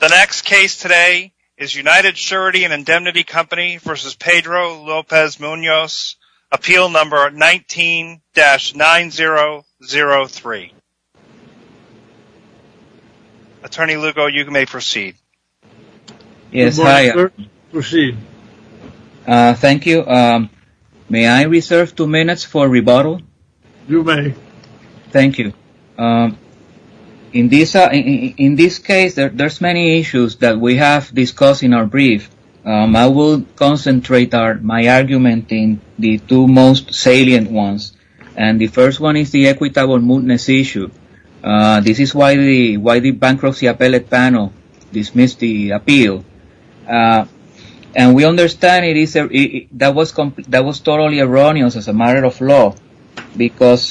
The next case today is United Surety & Indemnity Co. v. Pedro Lopez-Munoz, appeal number 19-9003. Attorney Lugo, you may proceed. Yes, hi. Proceed. Thank you. May I reserve two minutes for rebuttal? You may. Thank you. In this case, there's many issues that we have discussed in our brief. I will concentrate my argument in the two most salient ones. And the first one is the equitable mootness issue. This is why the bankruptcy appellate panel dismissed the appeal. And we understand that was totally erroneous as a matter of law. Because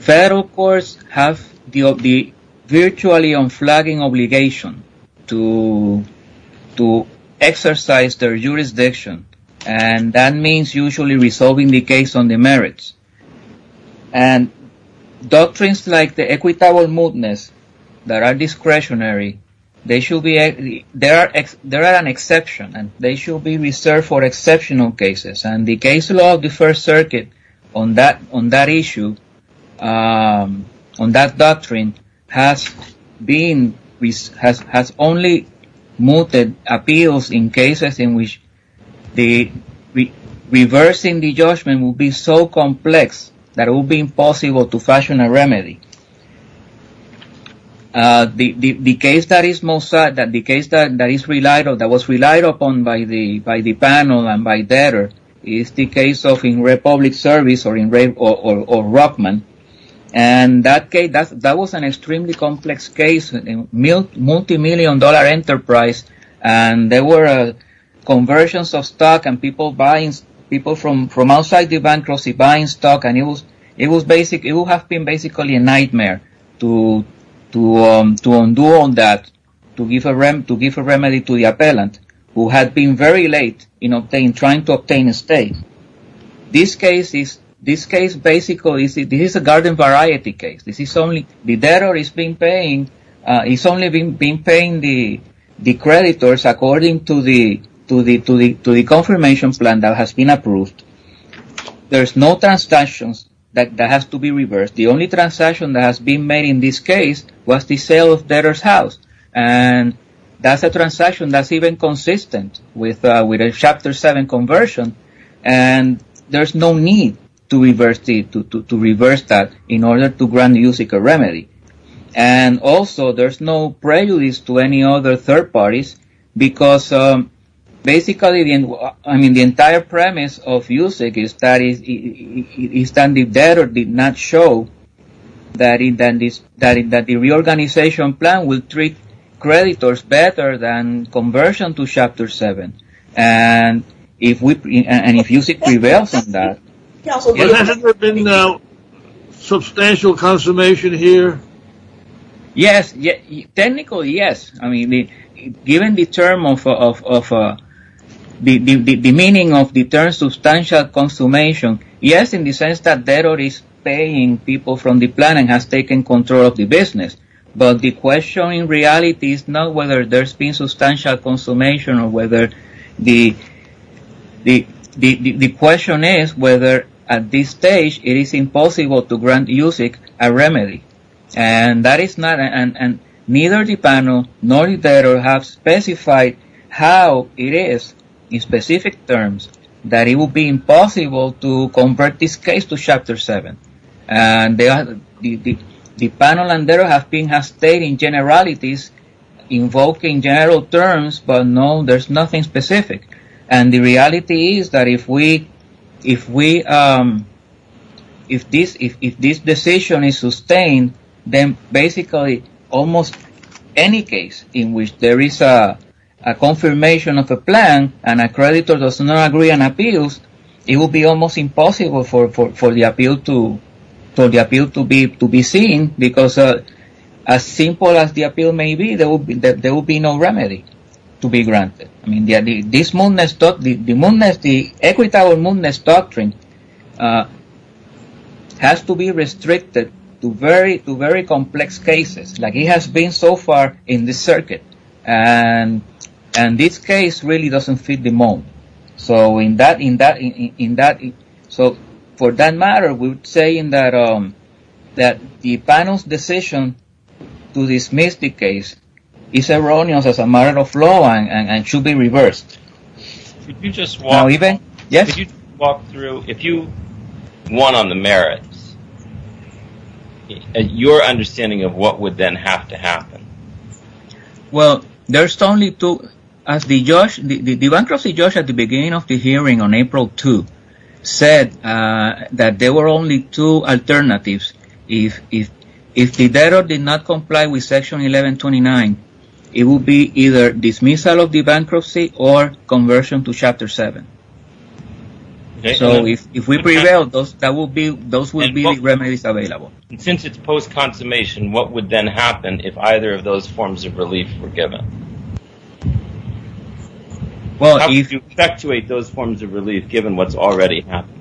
federal courts have the virtually unflagging obligation to exercise their jurisdiction. And that means usually resolving the case on the merits. And doctrines like the equitable mootness that are discretionary, they are an exception. And they should be reserved for exceptional cases. And the case law of the First Circuit on that issue, on that doctrine, has only mooted appeals in cases in which reversing the judgment would be so complex that it would be impossible to fashion a remedy. The case that was relied upon by the panel and by DEDR is the case of in Republic Service or Rockman. And that was an extremely complex case, multimillion-dollar enterprise. And there were conversions of stock and people from outside the bankruptcy buying stock. And it would have been basically a nightmare to undo all that, to give a remedy to the appellant who had been very late in trying to obtain a stay. This case basically is a garden variety case. The DEDR has only been paying the creditors according to the confirmation plan that has been approved. There's no transactions that have to be reversed. The only transaction that has been made in this case was the sale of DEDR's house. And that's a transaction that's even consistent with a Chapter 7 conversion. And there's no need to reverse that in order to grant USEC a remedy. And also there's no prejudice to any other third parties because basically the entire premise of USEC is that the DEDR did not show that the reorganization plan will treat creditors better than conversion to Chapter 7. And if USEC prevails on that... Has there been substantial consummation here? Yes. Technically, yes. Given the term of... the meaning of the term substantial consummation, yes, in the sense that DEDR is paying people from the plan and has taken control of the business. But the question in reality is not whether there's been substantial consummation or whether... The question is whether at this stage it is impossible to grant USEC a remedy. And neither the panel nor the DEDR have specified how it is in specific terms that it would be impossible to convert this case to Chapter 7. And the panel and DEDR have been stating generalities, invoking general terms, but no, there's nothing specific. And the reality is that if this decision is sustained, then basically almost any case in which there is a confirmation of a plan and a creditor does not agree on appeals, it will be almost impossible for the appeal to be seen because as simple as the appeal may be, there will be no remedy to be granted. The equitable mootness doctrine has to be restricted to very complex cases, like it has been so far in this circuit, and this case really doesn't fit the moot. So for that matter, we're saying that the panel's decision to dismiss the case is erroneous as a matter of law and should be reversed. Could you just walk through, if you won on the merits, your understanding of what would then have to happen? Well, there's only two, as the bankruptcy judge at the beginning of the hearing on April 2 said that there were only two alternatives. If the DEDR did not comply with Section 1129, it would be either dismissal of the bankruptcy or conversion to Chapter 7. So if we prevail, those would be the remedies available. And since it's post-consummation, what would then happen if either of those forms of relief were given? How would you effectuate those forms of relief given what's already happened?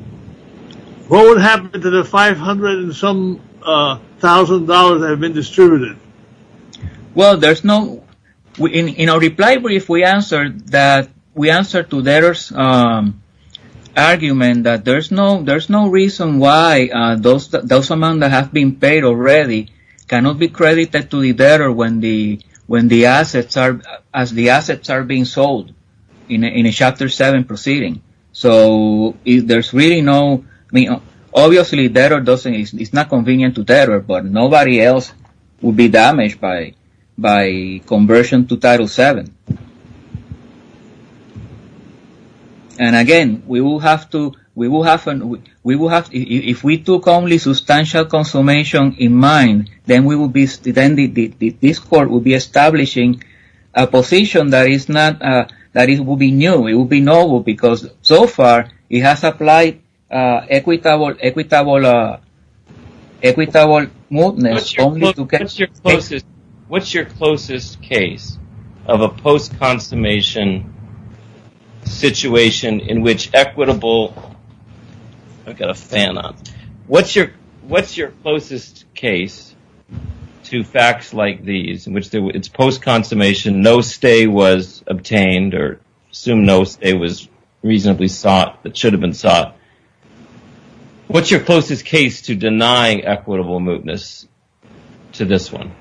What would happen to the $500 and some thousand dollars that have been distributed? Well, in our reply brief, we answered to DEDR's argument that there's no reason why those amounts that have been paid already cannot be credited to the DEDR as the assets are being sold in a Chapter 7 proceeding. So there's really no, I mean, obviously DEDR is not convenient to DEDR, but nobody else would be damaged by conversion to Title 7. And again, we will have to, we will have, if we took only substantial consummation in mind, then we will be, then this Court will be establishing a position that is not, that it will be new, it will be novel, because so far it has applied equitable, equitable, equitable movements only to get paid. What's your closest case of a post-consummation situation in which equitable, I've got a fan on. What's your closest case to facts like these, in which it's post-consummation, no stay was obtained or assumed no stay was reasonably sought, that should have been sought. What's your closest case to denying equitable movements to this one?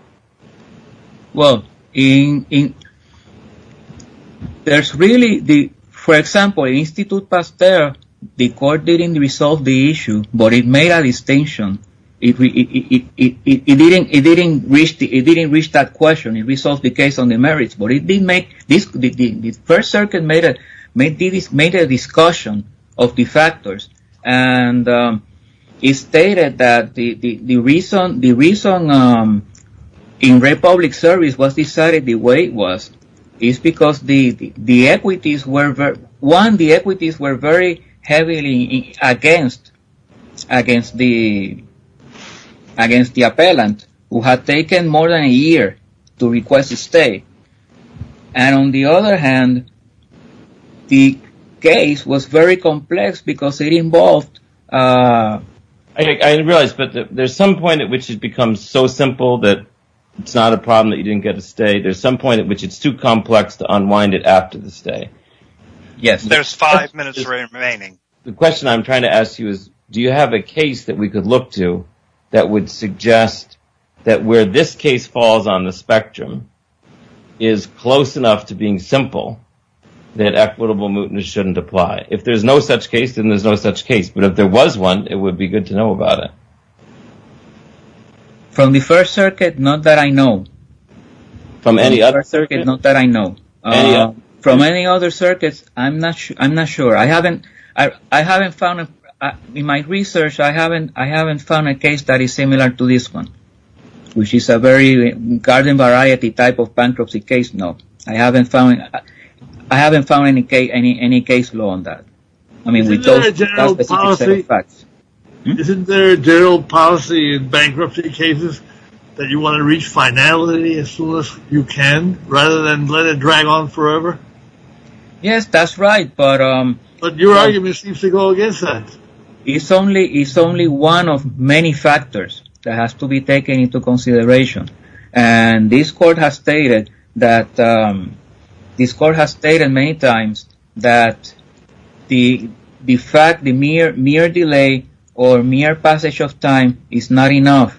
Well, in, there's really the, for example, in Institute Pasteur, the Court didn't resolve the issue, but it made a distinction. It didn't reach that question, it resolved the case on the merits, but it did make, the First Circuit made a discussion of the factors, and it stated that the reason in Republic Service was decided the way it was, is because the equities were, one, the equities were very heavily against, against the, against the appellant, who had taken more than a year to request a stay. And on the other hand, the case was very complex because it involved. I didn't realize, but there's some point at which it becomes so simple that it's not a problem that you didn't get a stay, there's some point at which it's too complex to unwind it after the stay. Yes, there's five minutes remaining. The question I'm trying to ask you is, do you have a case that we could look to that would suggest that where this case falls on the spectrum is close enough to being simple, that equitable movements shouldn't apply. If there's no such case, then there's no such case, but if there was one, it would be good to know about it. From the First Circuit, not that I know. From any other circuit? Not that I know. From any other circuits, I'm not, I'm not sure. I haven't, I haven't found, in my research, I haven't, I haven't found a case that is similar to this one, which is a very garden variety type of bankruptcy case, no. I haven't found, I haven't found any case, any case law on that. Isn't there a general policy in bankruptcy cases that you want to reach finality as soon as you can, rather than let it drag on forever? Yes, that's right. But your argument seems to go against that. It's only, it's only one of many factors that has to be taken into consideration. And this court has stated that, this court has stated many times that the fact, the mere, mere delay or mere passage of time is not enough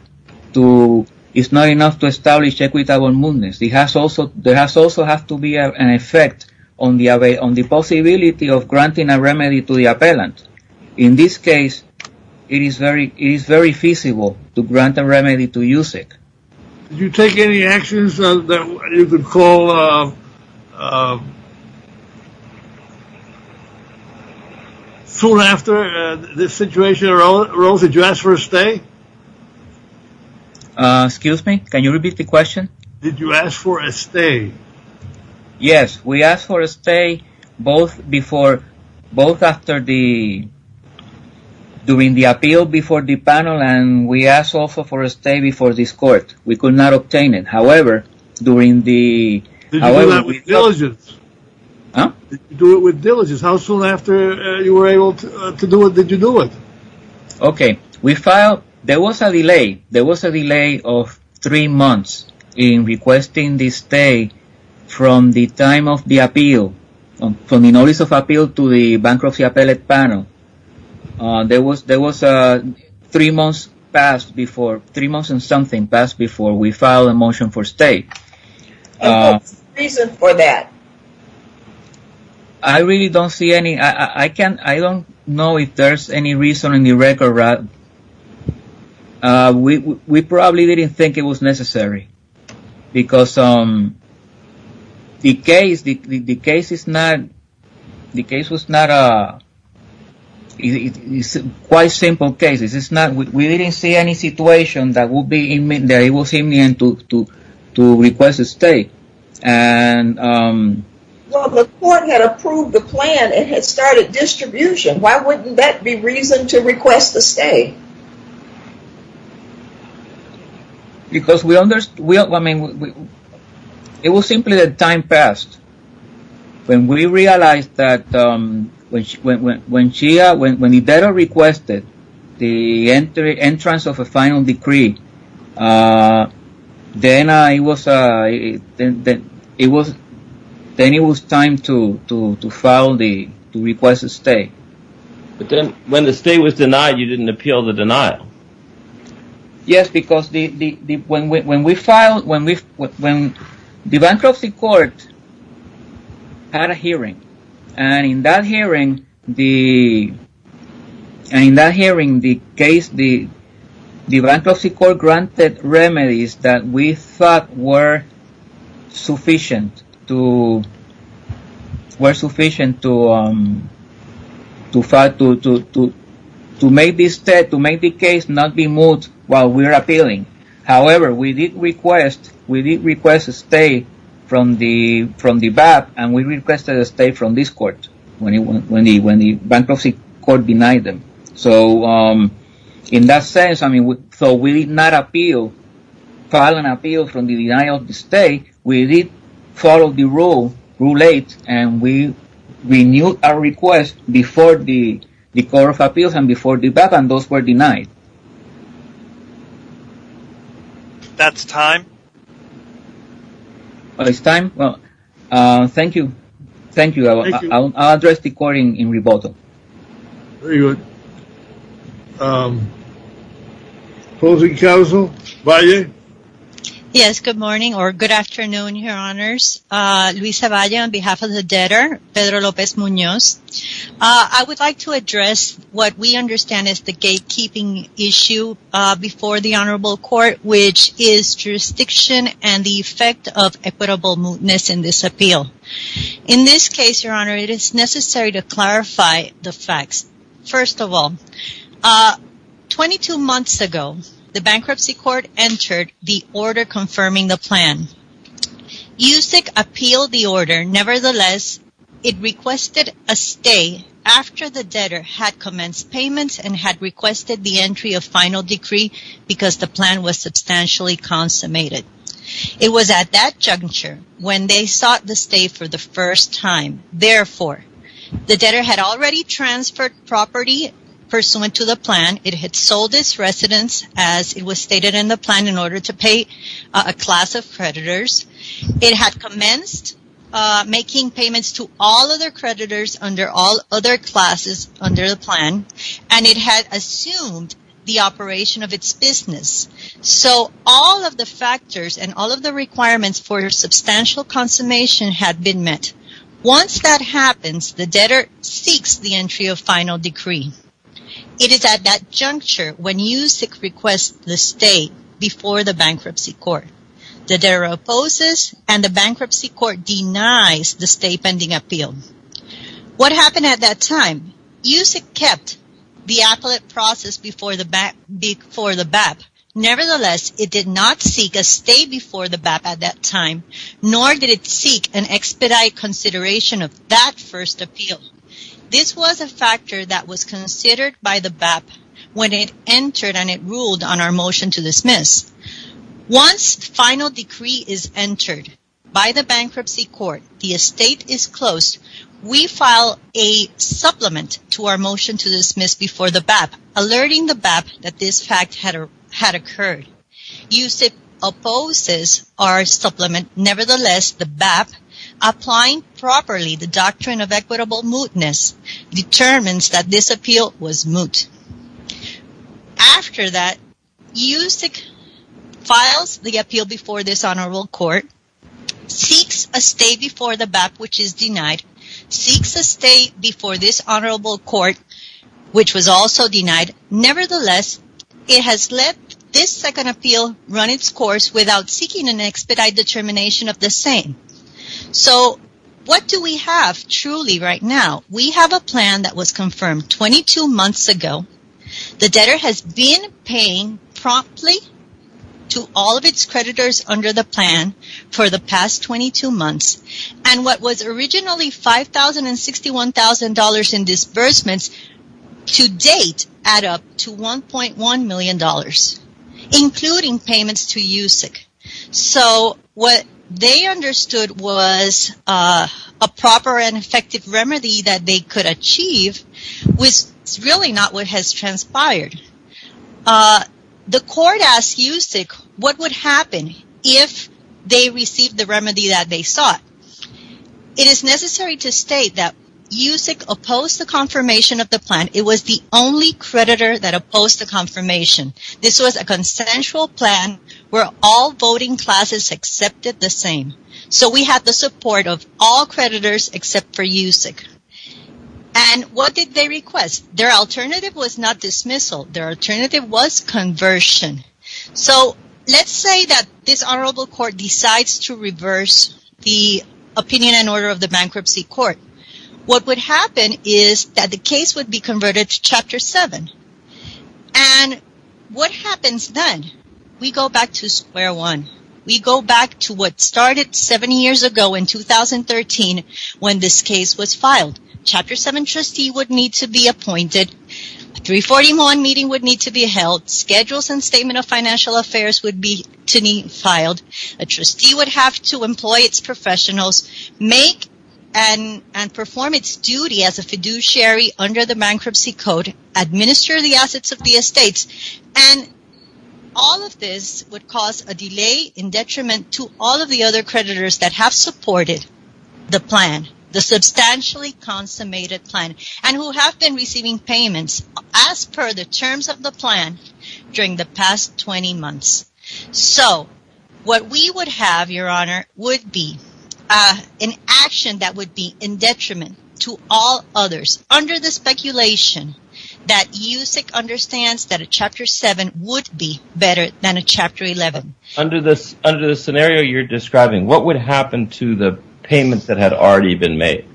to, is not enough to establish equitable movements. It has also, there has also have to be an effect on the, on the possibility of granting a remedy to the appellant. In this case, it is very, it is very feasible to grant a remedy to USIC. Did you take any actions that you could call, soon after this situation arose, did you ask for a stay? Excuse me, can you repeat the question? Did you ask for a stay? Yes, we asked for a stay, both before, both after the, during the appeal before the panel, and we asked also for a stay before this court. We could not obtain it, however, during the... Did you do that with diligence? Huh? Did you do it with diligence? How soon after you were able to do it, did you do it? Okay, we filed, there was a delay, there was a delay of three months in requesting the stay from the time of the appeal, from the notice of appeal to the bankruptcy appellate panel. There was, there was three months passed before, three months and something passed before we filed a motion for stay. And what's the reason for that? I really don't see any, I can't, I don't know if there's any reason in the record, we probably didn't think it was necessary. Because the case, the case is not, the case was not a, it's quite simple case, it's not, we didn't see any situation that would be, that it was imminent to request a stay. And... Well, the court had approved the plan and had started distribution, why wouldn't that be reason to request a stay? Because we understood, I mean, it was simply that time passed. When we realized that, when Chia, when Hidero requested the entrance of a final decree, then it was, then it was time to file the, to request a stay. But then, when the stay was denied, you didn't appeal the denial. Yes, because the, when we filed, when we, when the bankruptcy court had a hearing, and in that hearing, the, and in that hearing, the case, the bankruptcy court granted remedies that we thought were sufficient to, were sufficient to... To make the stay, to make the case not be moved while we were appealing. However, we did request, we did request a stay from the, from the BAP, and we requested a stay from this court, when the bankruptcy court denied them. So, in that sense, I mean, so we did not appeal, file an appeal from the denial of the stay, we did follow the rule, rule eight, and we renewed our request before the court of appeals and before the BAP, and those were denied. That's time. Well, it's time? Well, thank you. Thank you. I'll address the court in rebuttal. Very good. Closing counsel, Valle. Yes, good morning, or good afternoon, your honors. Luisa Valle on behalf of the debtor, Pedro Lopez Munoz. I would like to address what we understand as the gatekeeping issue before the honorable court, which is jurisdiction and the effect of equitableness in this appeal. In this case, your honor, it is necessary to clarify the facts. First of all, twenty-two months ago, the bankruptcy court entered the order confirming the plan. USIC appealed the order, nevertheless, it requested a stay after the debtor had commenced payments and had requested the entry of final decree because the plan was substantially consummated. It was at that juncture when they sought the stay for the first time. Therefore, the debtor had already transferred property pursuant to the plan. It had sold its residence as it was stated in the plan in order to pay a class of creditors. It had commenced making payments to all other creditors under all other classes under the plan, and it had assumed the operation of its business. So, all of the factors and all of the requirements for substantial consummation had been met. Once that happens, the debtor seeks the entry of final decree. It is at that juncture when USIC requests the stay before the bankruptcy court. The debtor opposes and the bankruptcy court denies the stay pending appeal. What happened at that time? USIC kept the appellate process before the BAP. Nevertheless, it did not seek a stay before the BAP at that time, nor did it seek an expedite consideration of that first appeal. This was a factor that was considered by the BAP when it entered and it ruled on our motion to dismiss. Once final decree is entered by the bankruptcy court, the estate is closed. We file a supplement to our motion to dismiss before the BAP, alerting the BAP that this fact had occurred. USIC opposes our supplement. Nevertheless, the BAP, applying properly the doctrine of equitable mootness, determines that this appeal was moot. After that, USIC files the appeal before this honorable court, seeks a stay before the BAP, which is denied, seeks a stay before this honorable court, which was also denied. Nevertheless, it has let this second appeal run its course without seeking an expedite determination of the same. So, what do we have truly right now? We have a plan that was confirmed 22 months ago. The debtor has been paying promptly to all of its creditors under the plan for the past 22 months. And what was originally $5,000 and $61,000 in disbursements, to date, add up to $1.1 million, including payments to USIC. So, what they understood was a proper and effective remedy that they could achieve was really not what has transpired. The court asked USIC what would happen if they received the remedy that they sought. It is necessary to state that USIC opposed the confirmation of the plan. It was the only creditor that opposed the confirmation. This was a consensual plan where all voting classes accepted the same. So, we have the support of all creditors except for USIC. And what did they request? Their alternative was not dismissal. Their alternative was conversion. So, let's say that this honorable court decides to reverse the opinion and order of the bankruptcy court. What would happen is that the case would be converted to Chapter 7. And what happens then? We go back to square one. We go back to what started seven years ago in 2013 when this case was filed. Chapter 7 trustee would need to be appointed. A 341 meeting would need to be held. Schedules and Statement of Financial Affairs would need to be filed. A trustee would have to employ its professionals, make and perform its duty as a fiduciary under the bankruptcy code, and insure the assets of the estates. And all of this would cause a delay in detriment to all of the other creditors that have supported the plan, the substantially consummated plan, and who have been receiving payments as per the terms of the plan during the past 20 months. So, what we would have, your honor, would be an action that would be in detriment to all others under the speculation that USEC understands that a Chapter 7 would be better than a Chapter 11. Under the scenario you're describing, what would happen to the payments that had already been made?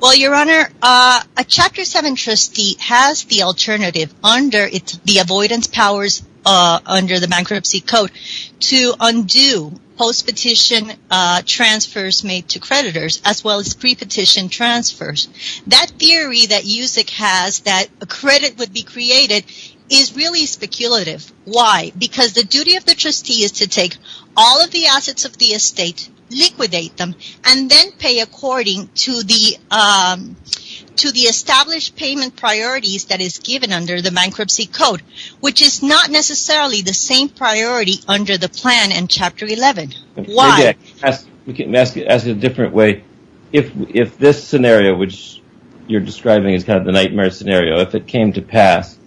Well, your honor, a Chapter 7 trustee has the alternative under the avoidance powers under the bankruptcy code to undo post-petition transfers made to creditors as well as pre-petition transfers. The theory that USEC has that a credit would be created is really speculative. Why? Because the duty of the trustee is to take all of the assets of the estate, liquidate them, and then pay according to the established payment priorities that is given under the bankruptcy code, which is not necessarily the same priority under the plan in Chapter 11. Why? Let me ask it a different way. If this scenario, which you're describing as kind of the nightmare scenario, if it came to pass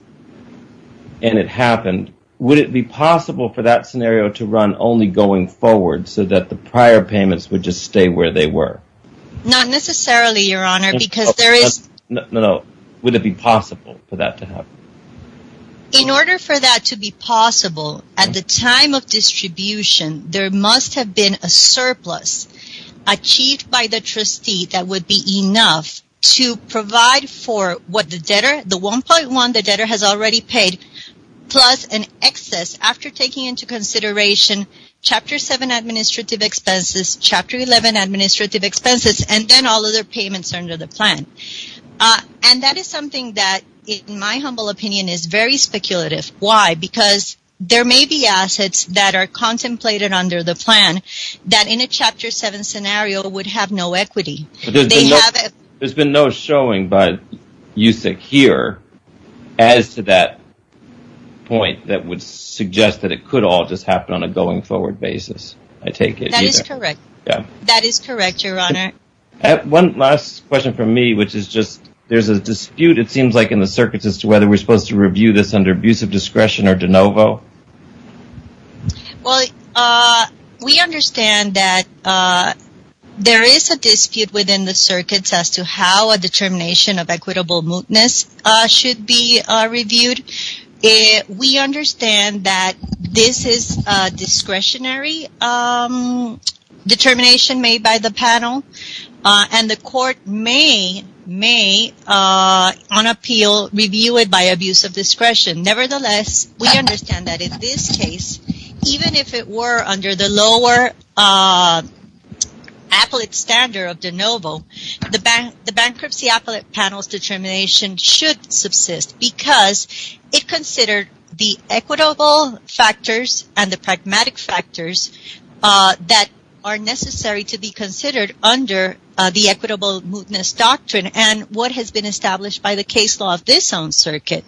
and it happened, would it be possible for that scenario to run only going forward so that the prior payments would just stay where they were? Not necessarily, your honor, because there is... No, no. Would it be possible for that to happen? In order for that to be possible, at the time of distribution, there must have been a surplus achieved by the trustee that would be enough to provide for what the debtor, the 1.1 the debtor has already paid, plus an excess after taking into consideration Chapter 7 administrative expenses, Chapter 11 administrative expenses, and then all other payments under the plan. And that is something that, in my humble opinion, is very speculative. Why? Because there may be assets that are contemplated under the plan that in a Chapter 7 scenario would have no equity. There's been no showing by USEC here as to that point that would suggest that it could all just happen on a going forward basis, I take it. That is correct. That is correct, your honor. One last question from me, which is just there's a dispute, it seems like, in the circuits as to whether we're supposed to review this under abusive discretion or de novo. Well, we understand that there is a dispute within the circuits as to how a determination of equitable mootness should be reviewed. We understand that this is a discretionary determination made by the panel. And the court may, on appeal, review it by abusive discretion. Nevertheless, we understand that in this case, even if it were under the lower appellate standard of de novo, the bankruptcy appellate panel's determination should subsist because it considered the equitable factors and the pragmatic factors that are necessary to be considered under the equitable mootness doctrine and what has been established by the case law of this own circuit.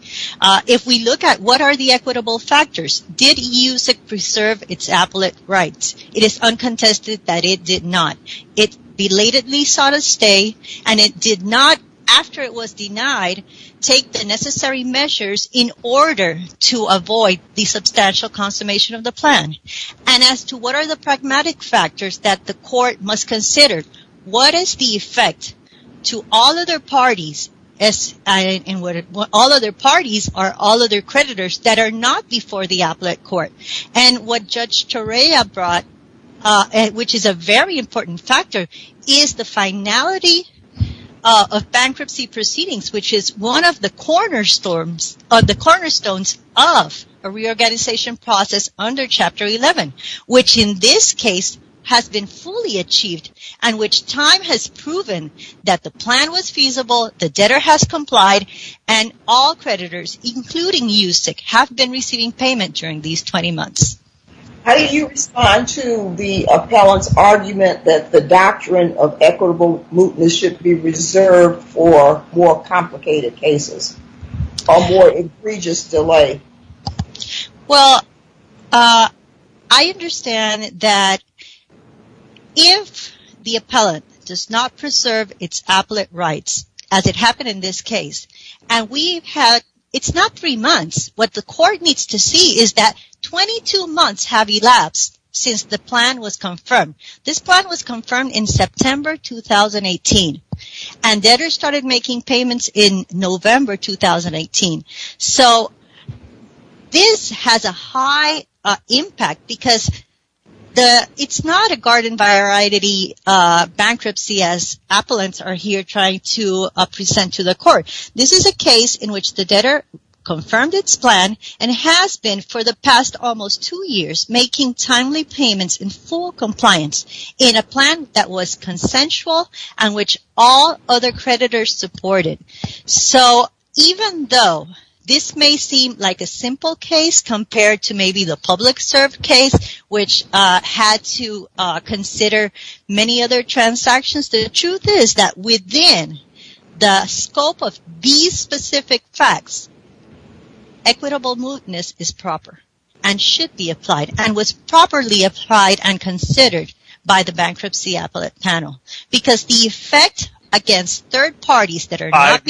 If we look at what are the equitable factors, did USEC preserve its appellate rights? It is uncontested that it did not. It belatedly sought a stay and it did not, after it was denied, take the necessary measures in order to avoid the substantial consummation of the plan. And as to what are the pragmatic factors that the court must consider? What is the effect to all other parties or all other creditors that are not before the appellate court? And what Judge Torreya brought, which is a very important factor, is the finality of bankruptcy proceedings, which is one of the cornerstones of a reorganization process under Section 311, which in this case has been fully achieved and which time has proven that the plan was feasible, the debtor has complied, and all creditors, including USEC, have been receiving payment during these 20 months. How did you respond to the appellant's argument that the doctrine of equitable mootness should be reserved for more complicated cases or more egregious delay? Well, I understand that if the appellant does not preserve its appellate rights, as it happened in this case, and it's not three months. What the court needs to see is that 22 months have elapsed since the plan was confirmed. This plan was confirmed in September 2018, and debtors started making payments in November 2018. So this has a high impact because it's not a garden-by-aridity bankruptcy as appellants are here trying to present to the court. This is a case in which the debtor confirmed its plan and has been for the past almost two years making timely payments in full compliance in a plan that was consensual and which all other creditors supported. So, even though this may seem like a simple case compared to maybe the public-serve case, which had to consider many other transactions, the truth is that within the scope of these specific facts, equitable mootness is proper and should be applied and was properly applied and considered by the bankruptcy appellate panel because the effect against third parties that are not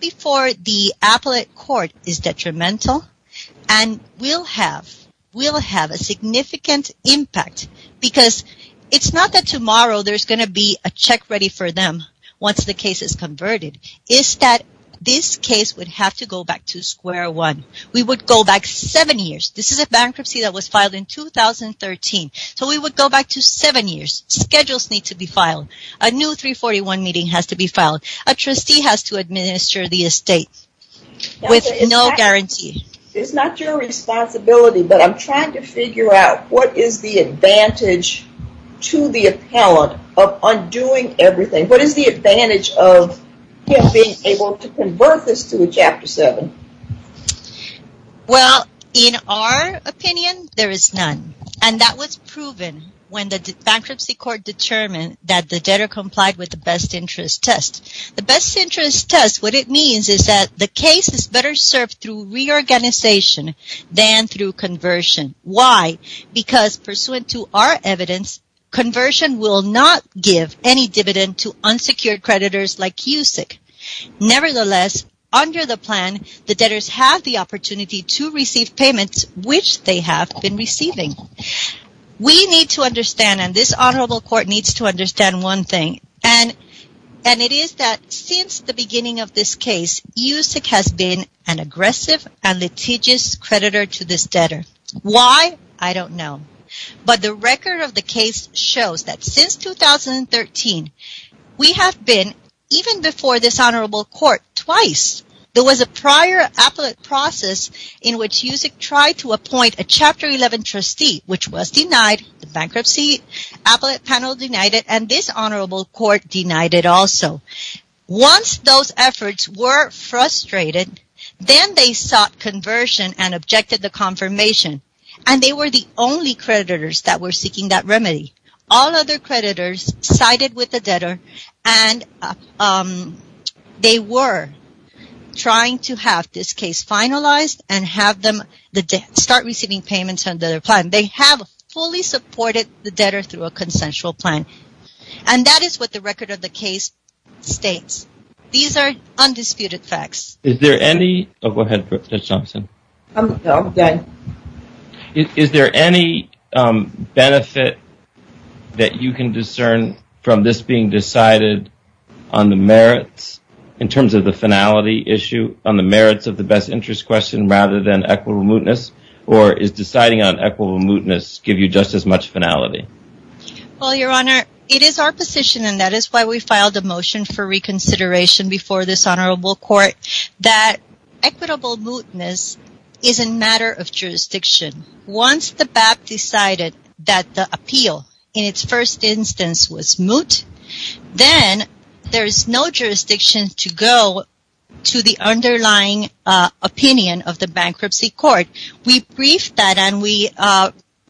before the appellate court is detrimental and will have a significant impact because it's not that tomorrow there's going to be a check ready for them once the case is converted. It's that this case would have to go back to square one. We would go back seven years. This is a bankruptcy that was filed in 2013. So, we would go back to seven years. Schedules need to be filed. A new 341 meeting has to be filed. A trustee has to administer the estate with no guarantee. It's not your responsibility, but I'm trying to figure out what is the advantage to the appellate of undoing everything? What is the advantage of him being able to convert this to a Chapter 7? Well, in our opinion, there is none. And that was proven when the bankruptcy court determined that the debtor complied with the best interest test. The best interest test, what it means is that the case is better served through reorganization than through conversion. Why? Because pursuant to our evidence, conversion will not give any dividend to unsecured creditors like USIC. Nevertheless, under the plan, the debtors have the opportunity to receive payments which they have been receiving. We need to understand, and this honorable court needs to understand one thing, and it is that since the beginning of this case, USIC has been an aggressive and litigious creditor to this debtor. Why? I don't know. But the record of the case shows that since 2013, we have been, even before this honorable court, twice. There was a prior appellate process in which USIC tried to appoint a Chapter 11 trustee, which was denied. The bankruptcy appellate panel denied it, and this honorable court denied it also. Once those efforts were frustrated, then they sought conversion and objected the confirmation. And they were the only creditors that were seeking that remedy. All other creditors sided with the debtor, and they were trying to have this case finalized and have them start receiving payments under their plan. They have fully supported the debtor through a consensual plan. And that is what the record of the case states. These are undisputed facts. Is there any benefit that you can discern from this being decided on the merits, in terms of the finality issue, on the merits of the best interest question, rather than equitable mootness? Or is deciding on equitable mootness give you just as much finality? Well, Your Honor, it is our position, and that is why we filed a motion for reconsideration before this honorable court, that equitable mootness is a matter of jurisdiction. Once the BAP decided that the appeal, in its first instance, was moot, then there is no jurisdiction to go to the underlying opinion of the bankruptcy court. We briefed that, and we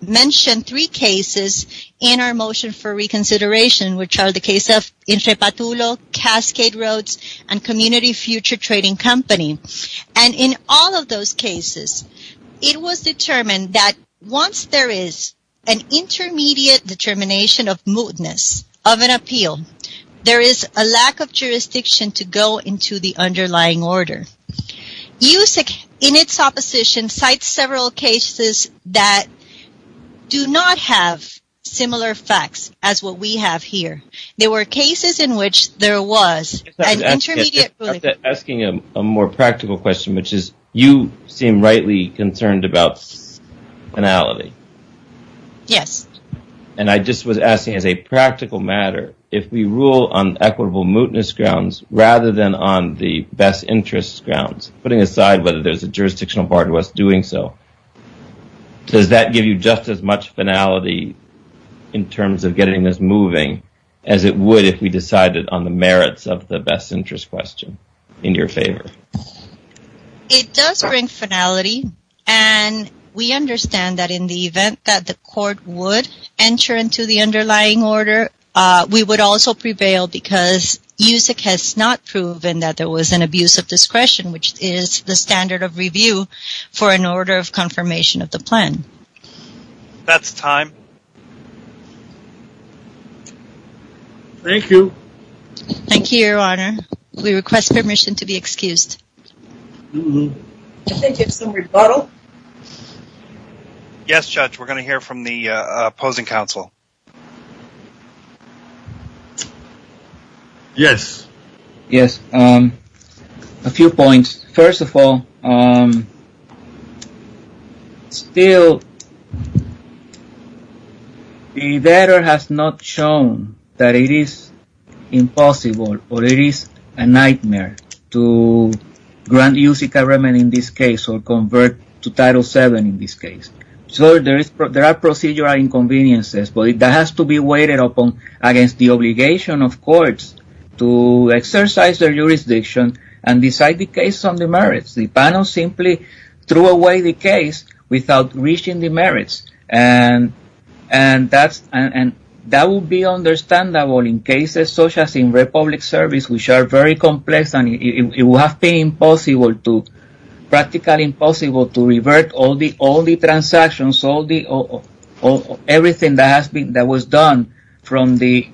mentioned three cases in our motion for reconsideration, which are the case of El Cepatulo, Cascade Roads, and Community Future Trading Company. And in all of those cases, it was determined that once there is an intermediate determination of mootness of an appeal, there is a lack of jurisdiction to go into the underlying order. You, in its opposition, cite several cases that do not have similar facts as what we have here. There were cases in which there was an intermediate ruling. If I could ask you a more practical question, which is, you seem rightly concerned about finality. Yes. And I just was asking, as a practical matter, if we rule on equitable mootness grounds, rather than on the best interest grounds, putting aside whether there is a jurisdictional bar to us doing so, does that give you just as much finality in terms of getting this moving as it would if we decided on the merits of the best interest question? In your favor. It does bring finality. And we understand that in the event that the court would enter into the underlying order, we would also prevail because USEC has not proven that there was an abuse of discretion, which is the standard of review for an order of confirmation of the plan. That's time. Thank you. Thank you, Your Honor. We request permission to be excused. I think it's a rebuttal. Yes, Judge, we're going to hear from the opposing counsel. Yes. Yes. A few points. First of all, still, the data has not shown that it is impossible or it is a nightmare to grant USC government in this case or convert to Title VII in this case. So there are procedural inconveniences, but that has to be weighted against the obligation of courts to exercise their jurisdiction and decide the case on the merits. The panel simply threw away the case without reaching the merits. And that would be understandable in cases such as in Republic Service, which are very complex and it would have been practically impossible to revert all the transactions, everything that was done from the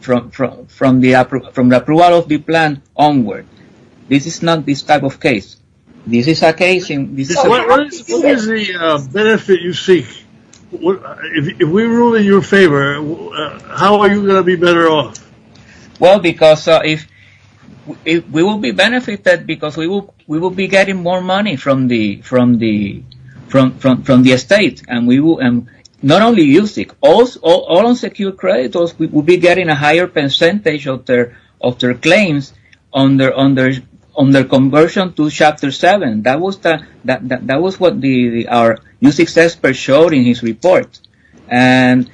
approval of the plan onward. This is not this type of case. What is the benefit you seek? If we rule in your favor, how are you going to be better off? Well, because if we will be benefited because we will be getting more money from the estate. And not only USC, all unsecured creditors will be getting a higher percentage of their claims on their conversion to Chapter VII. That was what our USC expert showed in his report. And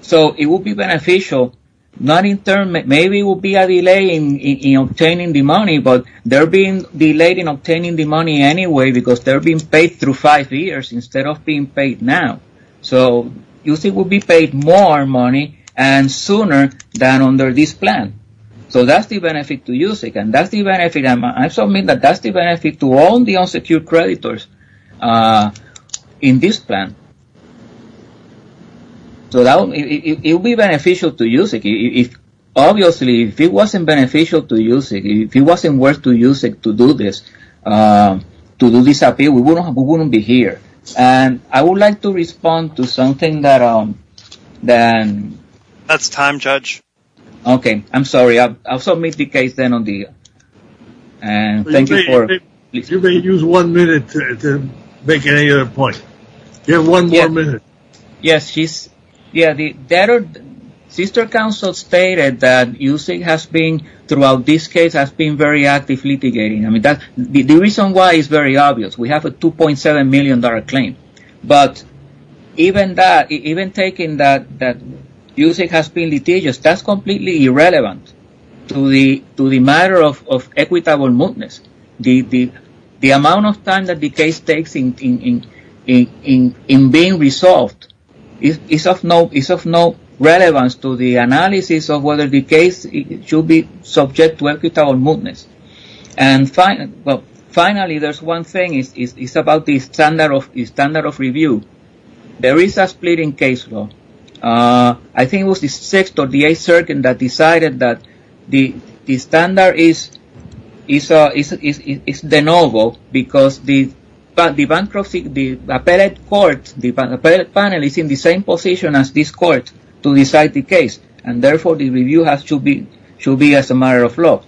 so it will be beneficial. Not in turn, maybe it will be a delay in obtaining the money, but they're being delayed in obtaining the money anyway because they're being paid through five years instead of being paid now. So USC will be paid more money and sooner than under this plan. So that's the benefit to USC. And that's the benefit to all the unsecured creditors in this plan. So it will be beneficial to USC. Obviously, if it wasn't beneficial to USC, if it wasn't worth to USC to do this, to do this appeal, we wouldn't be here. And I would like to respond to something that... That's time, Judge. Okay, I'm sorry. I'll submit the case then on the... And thank you for... You may use one minute to make any other point. You have one more minute. Yes, she's... Sister Counsel stated that USC has been, throughout this case, has been very active litigating. The reason why is very obvious. We have a $2.7 million claim. But even that, even taking that USC has been litigious, that's completely irrelevant to the matter of equitable mootness. The amount of time that the case takes in being resolved is of no relevance to the analysis of whether the case should be subject to equitable mootness. And finally, there's one thing. It's about the standard of review. There is a split in case law. I think it was the 6th or the 8th Circuit that decided that the standard is de novo because the appellate court, the appellate panel is in the same position as this court to decide the case. And therefore, the review should be as a matter of law.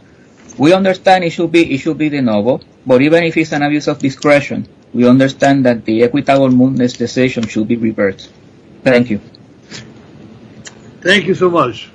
We understand it should be de novo. But even if it's an abuse of discretion, we understand that the equitable mootness decision should be reversed. Thank you so much. Thank you.